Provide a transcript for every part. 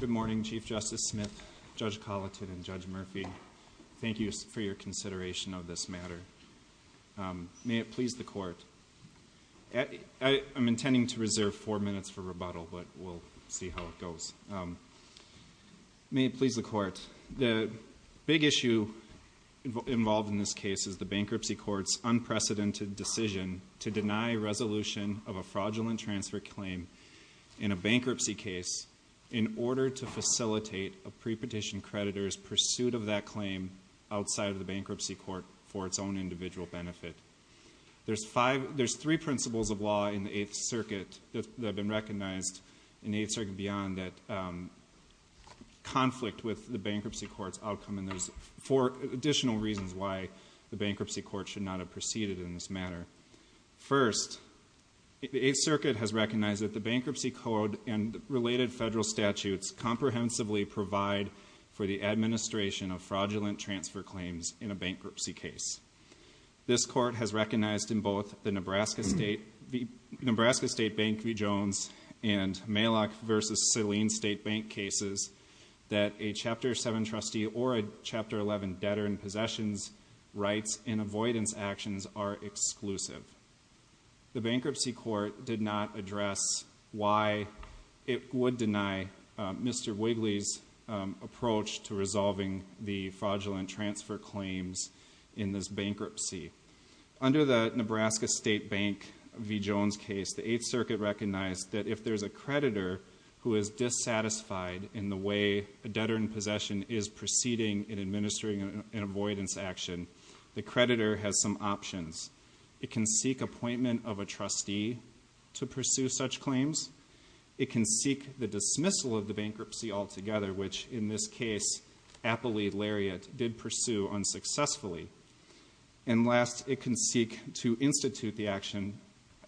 Good morning, Chief Justice Smith, Judge Colliton, and Judge Murphy. Thank you for your consideration of this matter. May it please the Court, I'm intending to reserve four minutes for rebuttal, but we'll see how it goes. May it please the Court, the big issue involved in this case is the Bankruptcy Court's unprecedented decision to deny resolution of a fraudulent transfer claim in a bankruptcy case in order to facilitate a pre-petition creditor's pursuit of that claim outside of the Bankruptcy Court for its own individual benefit. There's three principles of law in the Eighth Circuit that have been recognized in the Eighth Circuit beyond that conflict with the Bankruptcy Court's outcome, and there's four additional reasons why the Bankruptcy Court should not have proceeded in this matter. First, the Eighth Circuit has recognized that the Bankruptcy Code and related federal statutes comprehensively provide for the administration of fraudulent transfer claims in a bankruptcy case. This Court has recognized in both the Nebraska State Bank v. Jones and Maylock v. Saline State Bank cases that a Chapter 7 trustee or a Chapter 11 debtor in possessions rights in avoidance actions are exclusive. The Bankruptcy Court did not address why it would deny Mr. Wigley's approach to resolving the fraudulent transfer claims in this bankruptcy. Under the Nebraska State Bank v. Jones case, the Eighth Circuit recognized that if there's a creditor who is dissatisfied in the way a debtor in possession is proceeding in administering an avoidance action, the creditor has some options. It can seek appointment of a trustee to pursue such claims. It can seek the dismissal of the bankruptcy altogether, which, in this case, Applee Lariat did pursue unsuccessfully. And last, it can seek to institute the action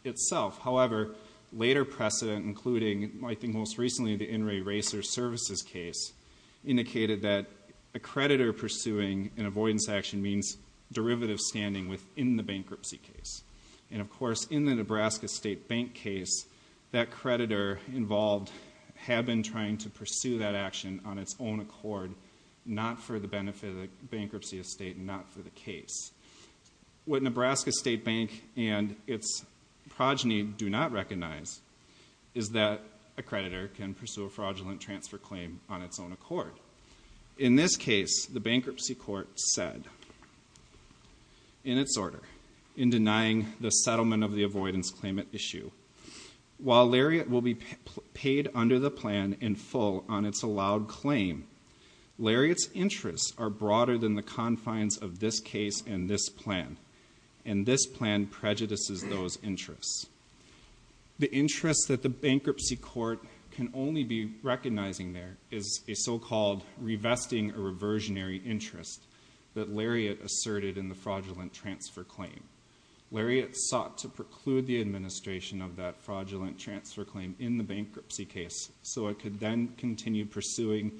itself. However, later precedent, including, I think, most recently, the In re Racer Services case, indicated that a creditor pursuing an avoidance action means derivative standing within the bankruptcy case. And, of course, in the Nebraska State Bank case, that creditor involved had been trying to pursue that action on its own accord, not for the benefit of the bankruptcy estate and not for the case. What Nebraska State Bank and its progeny do not recognize is that a creditor can pursue a fraudulent transfer claim on its own accord. In this case, the bankruptcy court said, in its order, in denying the settlement of the avoidance claim at issue, while Lariat will be paid under the plan in full on its allowed claim, Lariat's interests are broader than the confines of this case and this plan. And this plan prejudices those interests. The interest that the bankruptcy court can only be recognizing there is a so-called revesting or reversionary interest that Lariat asserted in the fraudulent transfer claim. Lariat sought to preclude the administration of that fraudulent transfer claim in the bankruptcy case so it could then continue pursuing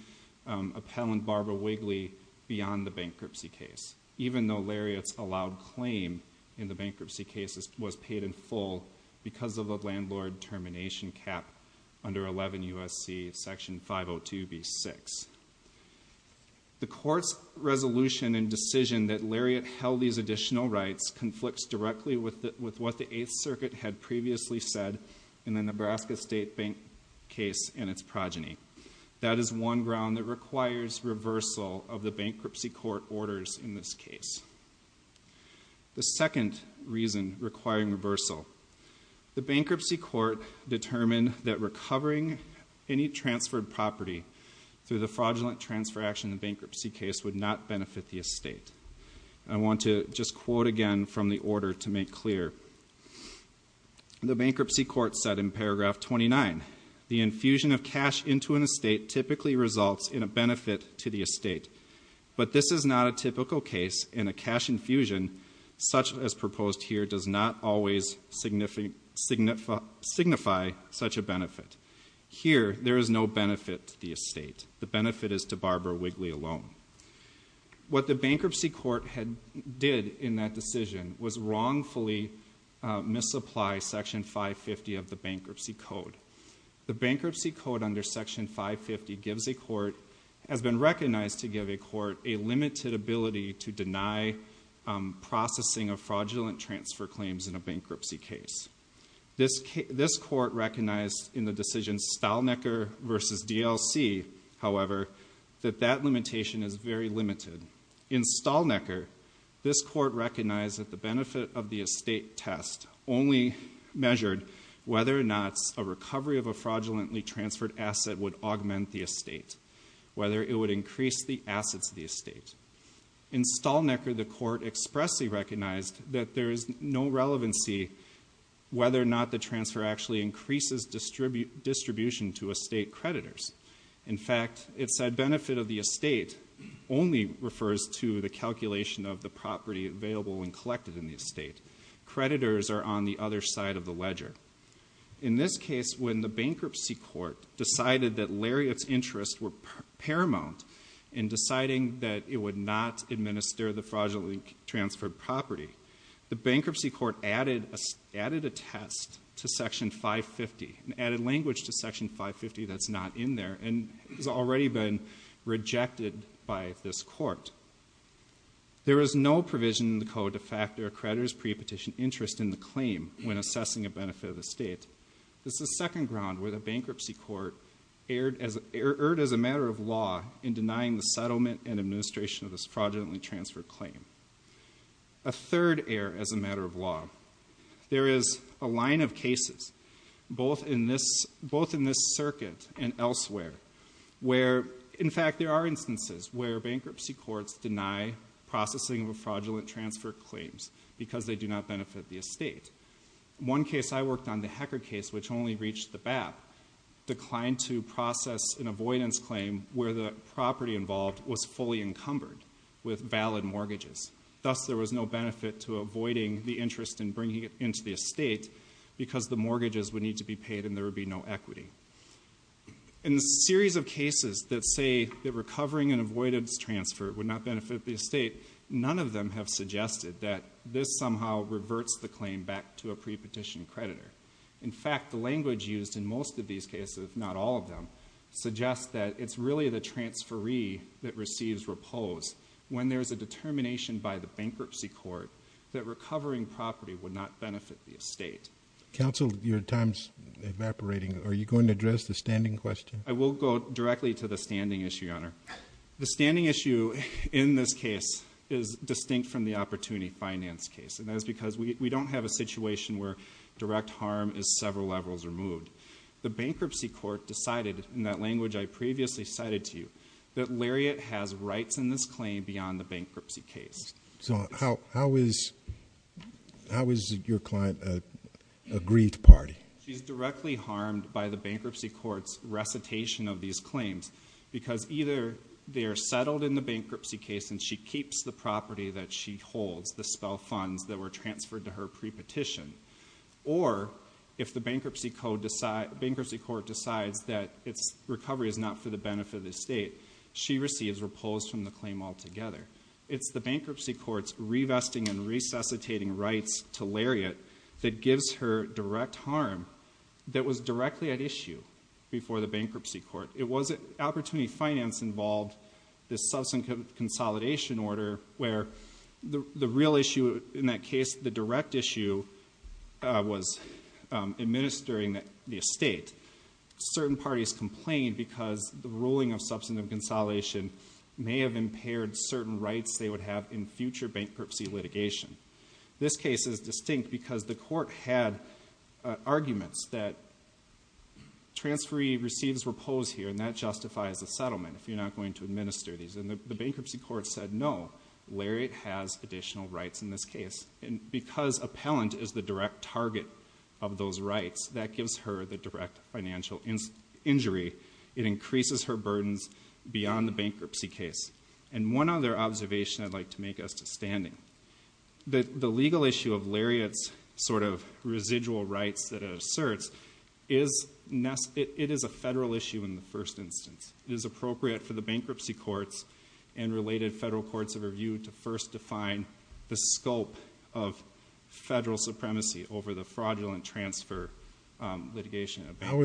appellant Barbara Wigley beyond the bankruptcy case, even though Lariat's allowed claim in the bankruptcy case was paid in full because of a landlord termination cap under 11 U.S.C. section 502b6. The court's resolution and decision that Lariat held these additional rights conflicts directly with what the 8th Circuit had previously said in the Nebraska State Bank case and its progeny. That is one ground that requires reversal of the bankruptcy court orders in this case. The second reason requiring reversal. The bankruptcy court determined that recovering any transferred property through the fraudulent transfer action in the bankruptcy case would not benefit the estate. I want to just quote again from the order to make clear. The bankruptcy court said in paragraph 29, the infusion of cash into an estate typically results in a benefit to the estate, but this is not a typical case and a cash infusion such as proposed here does not always signify such a benefit. Here there is no benefit to the estate. The benefit is to Barbara Wigley alone. What the bankruptcy court did in that decision was wrongfully misapply section 550 of the bankruptcy code. The bankruptcy code under section 550 has been recognized to give a court a limited ability to deny processing of fraudulent transfer claims in a bankruptcy case. This court recognized in the decision Stalnecker versus DLC, however, that that limitation is very limited. In Stalnecker, this court recognized that the benefit of the estate test only measured whether or not a recovery of a fraudulently transferred asset would augment the estate. Whether it would increase the assets of the estate. In Stalnecker, the court expressly recognized that there is no relevancy whether or not the transfer actually increases distribution to estate creditors. In fact, it said benefit of the estate only refers to the calculation of the property available and collected in the estate. Creditors are on the other side of the ledger. In this case, when the bankruptcy court decided that Lariat's interests were paramount in deciding that it would not administer the fraudulently transferred property, the bankruptcy court added a test to section 550 and added language to section 550 that's not in there. And has already been rejected by this court. There is no provision in the code to factor a creditor's pre-petition interest in the claim when assessing a benefit of the state. This is second ground where the bankruptcy court erred as a matter of law in denying the settlement and administration of this fraudulently transferred claim. A third error as a matter of law. There is a line of cases, both in this circuit and elsewhere, where in fact there are instances where bankruptcy courts deny processing of a fraudulent transfer claims. Because they do not benefit the estate. One case I worked on, the Hecker case, which only reached the BAP, declined to process an avoidance claim where the property involved was fully encumbered with valid mortgages. Thus, there was no benefit to avoiding the interest in bringing it into the estate because the mortgages would need to be paid and there would be no equity. In the series of cases that say that recovering an avoidance transfer would not benefit the estate, none of them have suggested that this somehow reverts the claim back to a pre-petition creditor. In fact, the language used in most of these cases, if not all of them, suggests that it's really the transferee that receives repose when there's a determination by the bankruptcy court that recovering property would not benefit the estate. Counsel, your time's evaporating. Are you going to address the standing question? I will go directly to the standing issue, Your Honor. The standing issue in this case is distinct from the opportunity finance case. And that is because we don't have a situation where direct harm is several levels removed. The bankruptcy court decided, in that language I previously cited to you, that Lariat has rights in this claim beyond the bankruptcy case. So how is your client a agreed party? She's directly harmed by the bankruptcy court's recitation of these claims. Because either they are settled in the bankruptcy case and she keeps the property that she holds, the spell funds that were transferred to her pre-petition. Or if the bankruptcy court decides that its recovery is not for the benefit of the estate, she receives repose from the claim altogether. It's the bankruptcy court's revesting and resuscitating rights to Lariat that gives her direct harm that was directly at issue before the bankruptcy court. It wasn't opportunity finance involved, the substantive consolidation order where the real issue in that case, the direct issue was administering the estate. Certain parties complained because the ruling of substantive consolidation may have impaired certain rights they would have in future bankruptcy litigation. This case is distinct because the court had arguments that transferee receives repose here and that justifies the settlement if you're not going to administer these. And the bankruptcy court said no, Lariat has additional rights in this case. And because appellant is the direct target of those rights, that gives her the direct financial injury. It increases her burdens beyond the bankruptcy case. And one other observation I'd like to make as to standing. The legal issue of Lariat's sort of residual rights that it asserts, it is a federal issue in the first instance. It is appropriate for the bankruptcy courts and related federal courts of review to first define the scope of federal supremacy over the fraudulent transfer litigation. How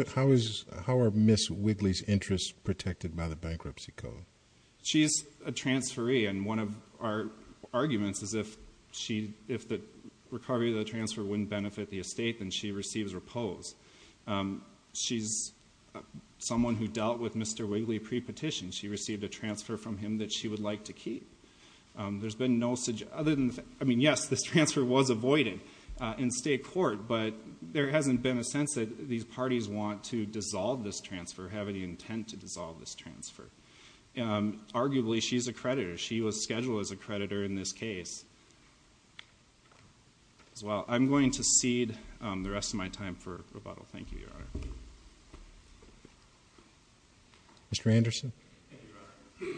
are Ms. Wigley's interests protected by the bankruptcy code? She's a transferee and one of our arguments is if the recovery of the transfer wouldn't benefit the estate, then she receives repose. She's someone who dealt with Mr. Wigley pre-petition. She received a transfer from him that she would like to keep. There's been no, I mean, yes, this transfer was avoided in state court, but there hasn't been a sense that these parties want to dissolve this transfer, have any intent to dissolve this transfer. Arguably, she's a creditor. She was scheduled as a creditor in this case as well. I'm going to cede the rest of my time for rebuttal. Thank you, Your Honor. Mr. Anderson? Thank you, Your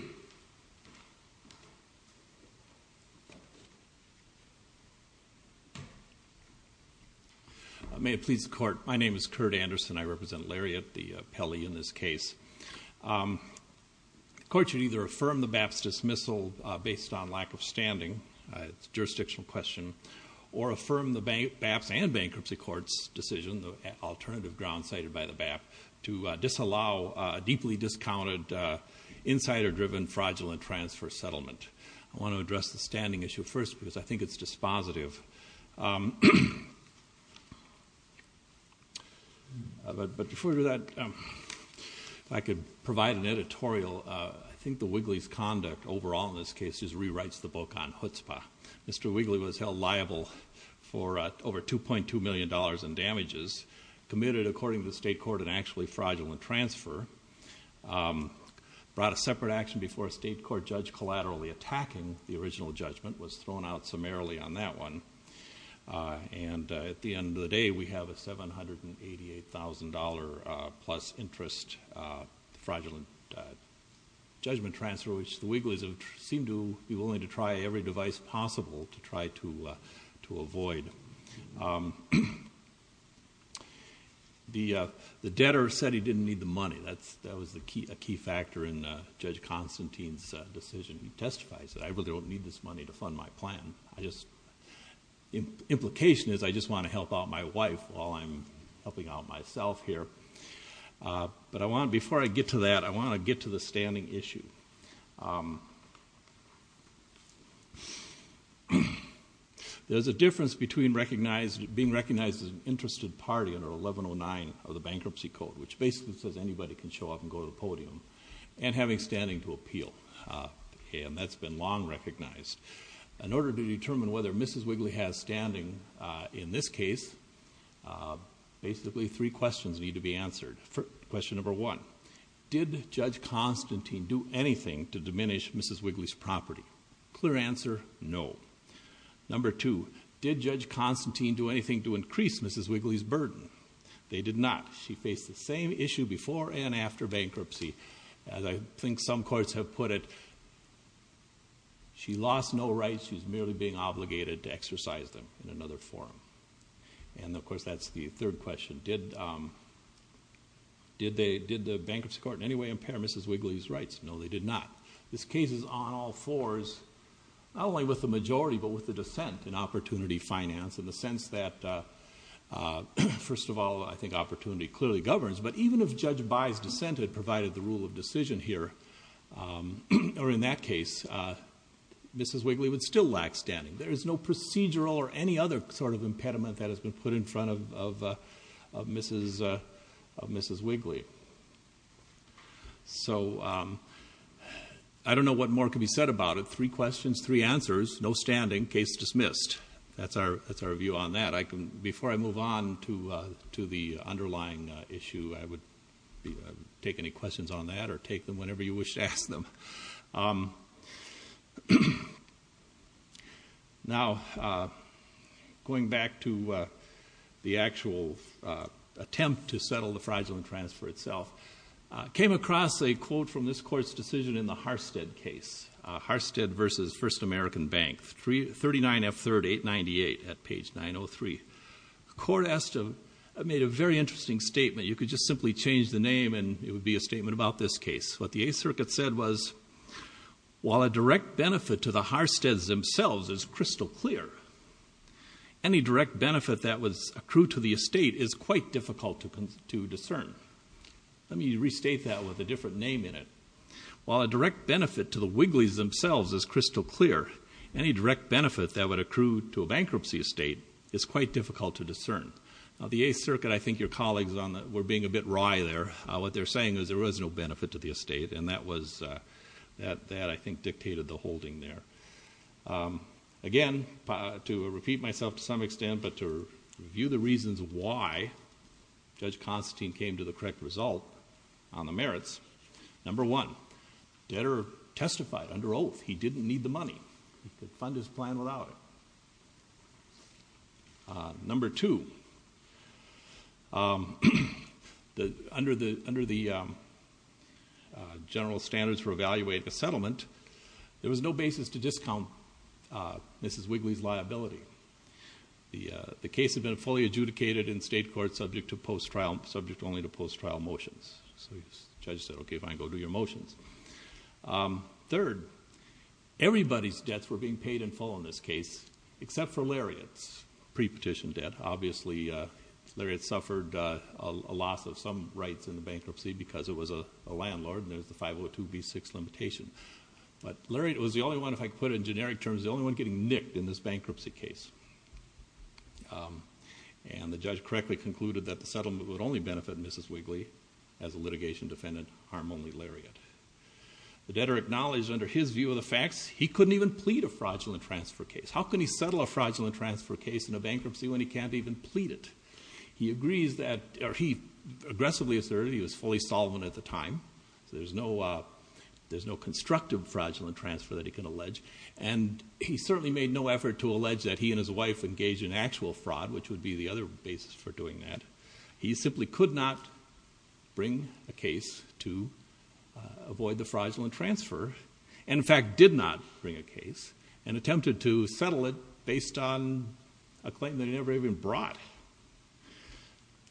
Honor. May it please the court, my name is Kurt Anderson, I represent Lariat, the appellee in this case. The court should either affirm the BAPS dismissal based on lack of standing, it's a jurisdictional question, or affirm the BAPS and bankruptcy court's decision, the alternative grounds cited by the BAP, to disallow a deeply discounted insider-driven fraudulent transfer settlement. I want to address the standing issue first because I think it's dispositive. But before we do that, if I could provide an editorial, I think the Wigley's conduct overall in this case just rewrites the book on chutzpah. Mr. Wigley was held liable for over $2.2 million in damages, committed according to the state court an actually fraudulent transfer, brought a separate action before a state court judge collaterally attacking the original judgment, was thrown out summarily on that one. And at the end of the day, we have a $788,000 plus interest fraudulent judgment transfer, which the Wigley's have seemed to be willing to try every device possible to try to avoid. The debtor said he didn't need the money, that was a key factor in Judge Constantine's decision. He testifies that I really don't need this money to fund my plan. Implication is I just want to help out my wife while I'm helping out myself here. But I want, before I get to that, I want to get to the standing issue. There's a difference between recognized, being recognized as an interested party under 1109 of the Bankruptcy Code, which basically says anybody can show up and go to the podium, and having standing to appeal. And that's been long recognized. In order to determine whether Mrs. Wigley has standing in this case, basically three questions need to be answered. Question number one, did Judge Constantine do anything to diminish Mrs. Wigley's property? Clear answer, no. Number two, did Judge Constantine do anything to increase Mrs. Wigley's burden? They did not. She faced the same issue before and after bankruptcy. As I think some courts have put it, she lost no rights. She was merely being obligated to exercise them in another form. And of course, that's the third question. Did the bankruptcy court in any way impair Mrs. Wigley's rights? No, they did not. This case is on all fours, not only with the majority, but with the dissent in opportunity finance, in the sense that, first of all, I think opportunity clearly governs. But even if Judge Bayh's dissent had provided the rule of decision here, or in that case, Mrs. Wigley would still lack standing. There is no procedural or any other sort of impediment that has been put in front of Mrs. Wigley. So I don't know what more could be said about it. Three questions, three answers, no standing, case dismissed. That's our view on that. Before I move on to the underlying issue, I would take any questions on that or take them whenever you wish to ask them. Now, going back to the actual attempt to settle the fraudulent transfer itself. Came across a quote from this court's decision in the Harstead case. Harstead versus First American Bank, 39F3898 at page 903. The court made a very interesting statement. You could just simply change the name and it would be a statement about this case. What the Eighth Circuit said was, while a direct benefit to the Harsteads themselves is crystal clear, any direct benefit that was accrued to the estate is quite difficult to discern. Let me restate that with a different name in it. While a direct benefit to the Wigleys themselves is crystal clear, any direct benefit that would accrue to a bankruptcy estate is quite difficult to discern. Now, the Eighth Circuit, I think your colleagues were being a bit wry there. What they're saying is there was no benefit to the estate and that, I think, dictated the holding there. Again, to repeat myself to some extent, but to review the reasons why Judge Constantine came to the correct result on the merits, number one, debtor testified under oath he didn't need the money, he could fund his plan without it. Number two, under the general standards for evaluating a settlement, there was no basis to discount Mrs. Wigley's liability. The case had been fully adjudicated in state court subject only to post-trial motions. So the judge said, okay, fine, go do your motions. Third, everybody's debts were being paid in full in this case, except for Lariat's pre-petition debt. Obviously, Lariat suffered a loss of some rights in the bankruptcy because it was a landlord, and there's the 502B6 limitation. But Lariat was the only one, if I could put it in generic terms, the only one getting nicked in this bankruptcy case. And the judge correctly concluded that the settlement would only benefit Mrs. Wigley as a litigation defendant, harm only Lariat. The debtor acknowledged under his view of the facts, he couldn't even plead a fraudulent transfer case. How can he settle a fraudulent transfer case in a bankruptcy when he can't even plead it? He aggressively asserted he was fully solvent at the time. So there's no constructive fraudulent transfer that he can allege. And he certainly made no effort to allege that he and his wife engaged in actual fraud, which would be the other basis for doing that. He simply could not bring a case to avoid the fraudulent transfer, and in fact, did not bring a case, and attempted to settle it based on a claim that he never even brought.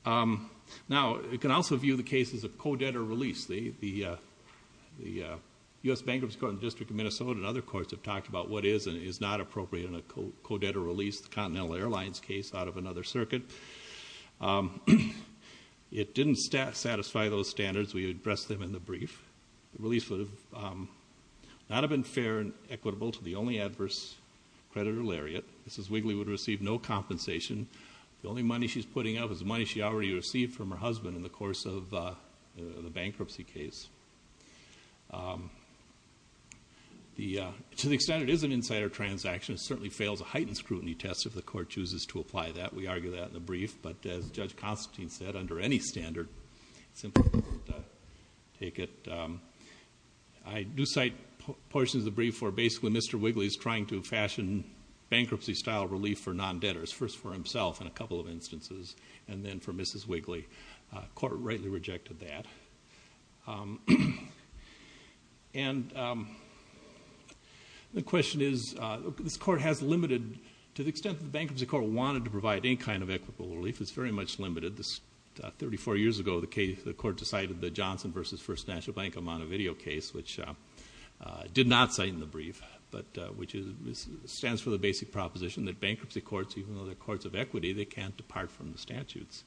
Now, you can also view the case as a co-debtor release. The U.S. Bankruptcy Court in the District of Minnesota and other courts have talked about what is and is not appropriate in a co-debtor release, the Continental Airlines case out of another circuit. It didn't satisfy those standards, we addressed them in the brief. The release would not have been fair and equitable to the only adverse creditor, Lariat. Mrs. Wigley would have received no compensation. The only money she's putting up is the money she already received from her husband in the course of the bankruptcy case. To the extent it is an insider transaction, it certainly fails a heightened scrutiny test if the court chooses to apply that. We argue that in the brief, but as Judge Constantine said, under any standard, simply won't take it. I do cite portions of the brief for basically Mr. Wigley's trying to fashion bankruptcy style relief for non-debtors. First for himself in a couple of instances, and then for Mrs. Wigley. Court rightly rejected that. And the question is, this court has limited, to the extent the bankruptcy court wanted to provide any kind of equitable relief, it's very much limited. This 34 years ago, the court decided the Johnson versus First National Bank amount of video case, which did not cite in the brief, but which stands for the basic proposition that bankruptcy courts, even though they're courts of equity, they can't depart from the statutes.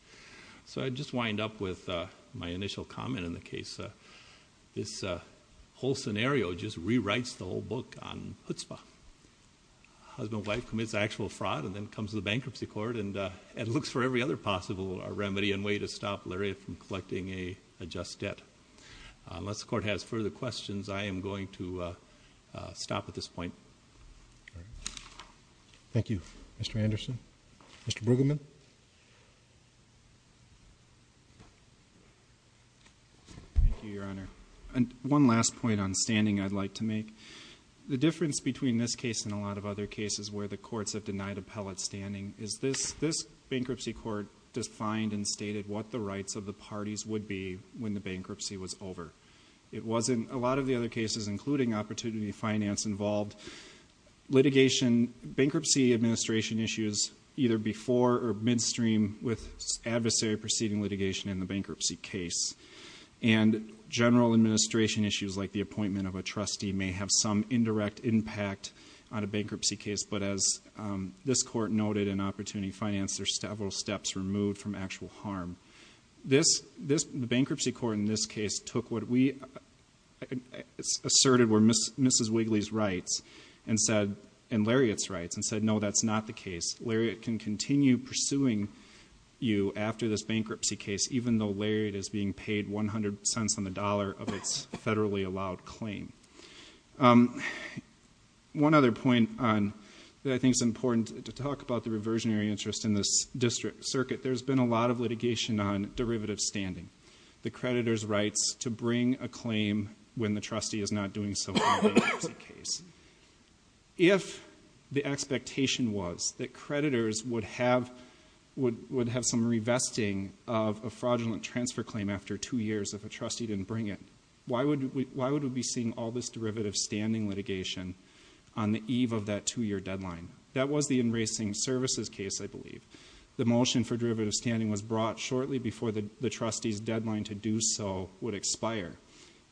So I just wind up with my initial comment in the case. This whole scenario just rewrites the whole book on chutzpah. Husband and wife commits actual fraud, and then comes the bankruptcy court, and it looks for every other possible remedy and way to stop Larry from collecting a just debt. Unless the court has further questions, I am going to stop at this point. Thank you, Mr. Anderson. Mr. Brueggemann. Thank you, Your Honor. And one last point on standing I'd like to make. The difference between this case and a lot of other cases where the courts have denied appellate standing is this bankruptcy court defined and stated what the rights of the parties would be when the bankruptcy was over. It wasn't, a lot of the other cases, including opportunity finance involved, litigation bankruptcy administration issues either before or midstream with adversary proceeding litigation in the bankruptcy case. And general administration issues like the appointment of a trustee may have some indirect impact on a bankruptcy case. But as this court noted in opportunity finance, there's several steps removed from actual harm. The bankruptcy court in this case took what we asserted were Mrs. Wigley's rights and said, and Lariat's rights, and said no, that's not the case. Lariat can continue pursuing you after this bankruptcy case, even though Lariat is being paid 100 cents on the dollar of its federally allowed claim. One other point that I think is important to talk about the reversionary interest in this district circuit, there's been a lot of litigation on derivative standing. The creditor's rights to bring a claim when the trustee is not doing so in a bankruptcy case. If the expectation was that creditors would have some revesting of a fraudulent transfer claim after two years if a trustee didn't bring it, why would we be seeing all this derivative standing litigation on the eve of that two year deadline? That was the enracing services case, I believe. The motion for derivative standing was brought shortly before the trustee's deadline to do so would expire.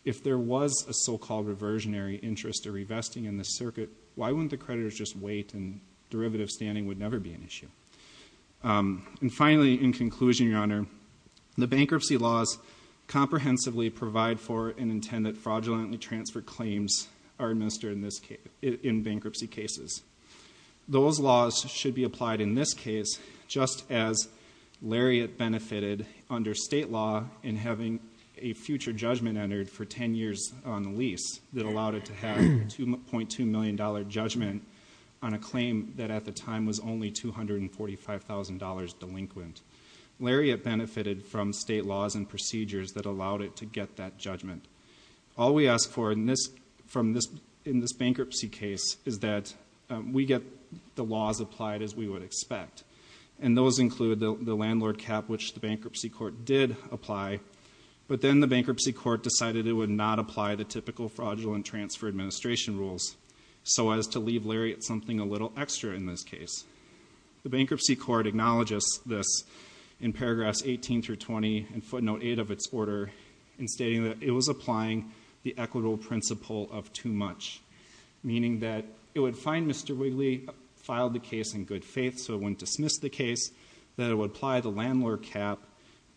If there was a so-called reversionary interest or revesting in this circuit, why wouldn't the creditors just wait and derivative standing would never be an issue? And finally, in conclusion, your honor, the bankruptcy laws comprehensively provide for and intend that fraudulently transferred claims are administered in bankruptcy cases. Those laws should be applied in this case just as Lariat benefited under state law in having a future judgment entered for ten years on the lease that allowed it to have a $2.2 million judgment on a claim that at the time was only $245,000 delinquent. Lariat benefited from state laws and procedures that allowed it to get that judgment. All we ask for in this bankruptcy case is that we get the laws applied as we would expect. And those include the landlord cap, which the bankruptcy court did apply. But then the bankruptcy court decided it would not apply the typical fraudulent transfer administration rules. So as to leave Lariat something a little extra in this case. The bankruptcy court acknowledges this in paragraphs 18 through 20 and footnote 8 of its order in stating that it was applying the equitable principle of too much. Meaning that it would find Mr. Wigley filed the case in good faith so it wouldn't dismiss the case. That it would apply the landlord cap.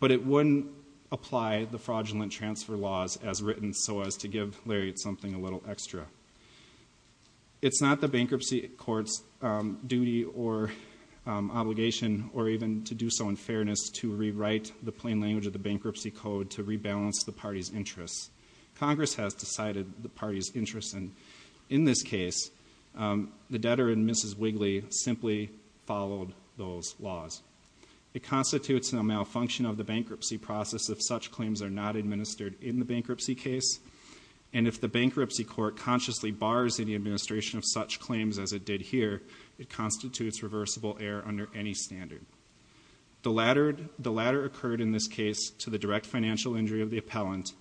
But it wouldn't apply the fraudulent transfer laws as written so as to give Lariat something a little extra. It's not the bankruptcy court's duty or obligation or even to do so in fairness to rewrite the plain language of the bankruptcy code to rebalance the party's interests. Congress has decided the party's interest in this case. The debtor in Mrs. Wigley simply followed those laws. It constitutes a malfunction of the bankruptcy process if such claims are not administered in the bankruptcy case. And if the bankruptcy court consciously bars any administration of such claims as it did here, it constitutes reversible error under any standard. The latter occurred in this case to the direct financial injury of the appellant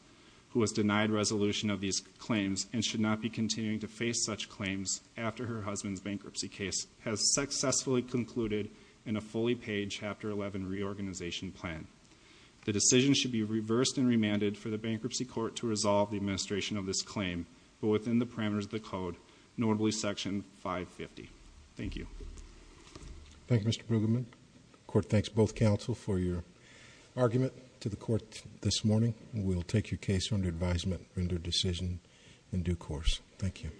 who was denied resolution of these claims and should not be continuing to face such claims after her husband's bankruptcy case has successfully concluded. In a fully paid chapter 11 reorganization plan. The decision should be reversed and remanded for the bankruptcy court to resolve the administration of this claim. But within the parameters of the code, notably section 550, thank you. Thank you, Mr. Brueggemann. Court thanks both counsel for your argument to the court this morning. We'll take your case under advisement, render decision in due course. Thank you.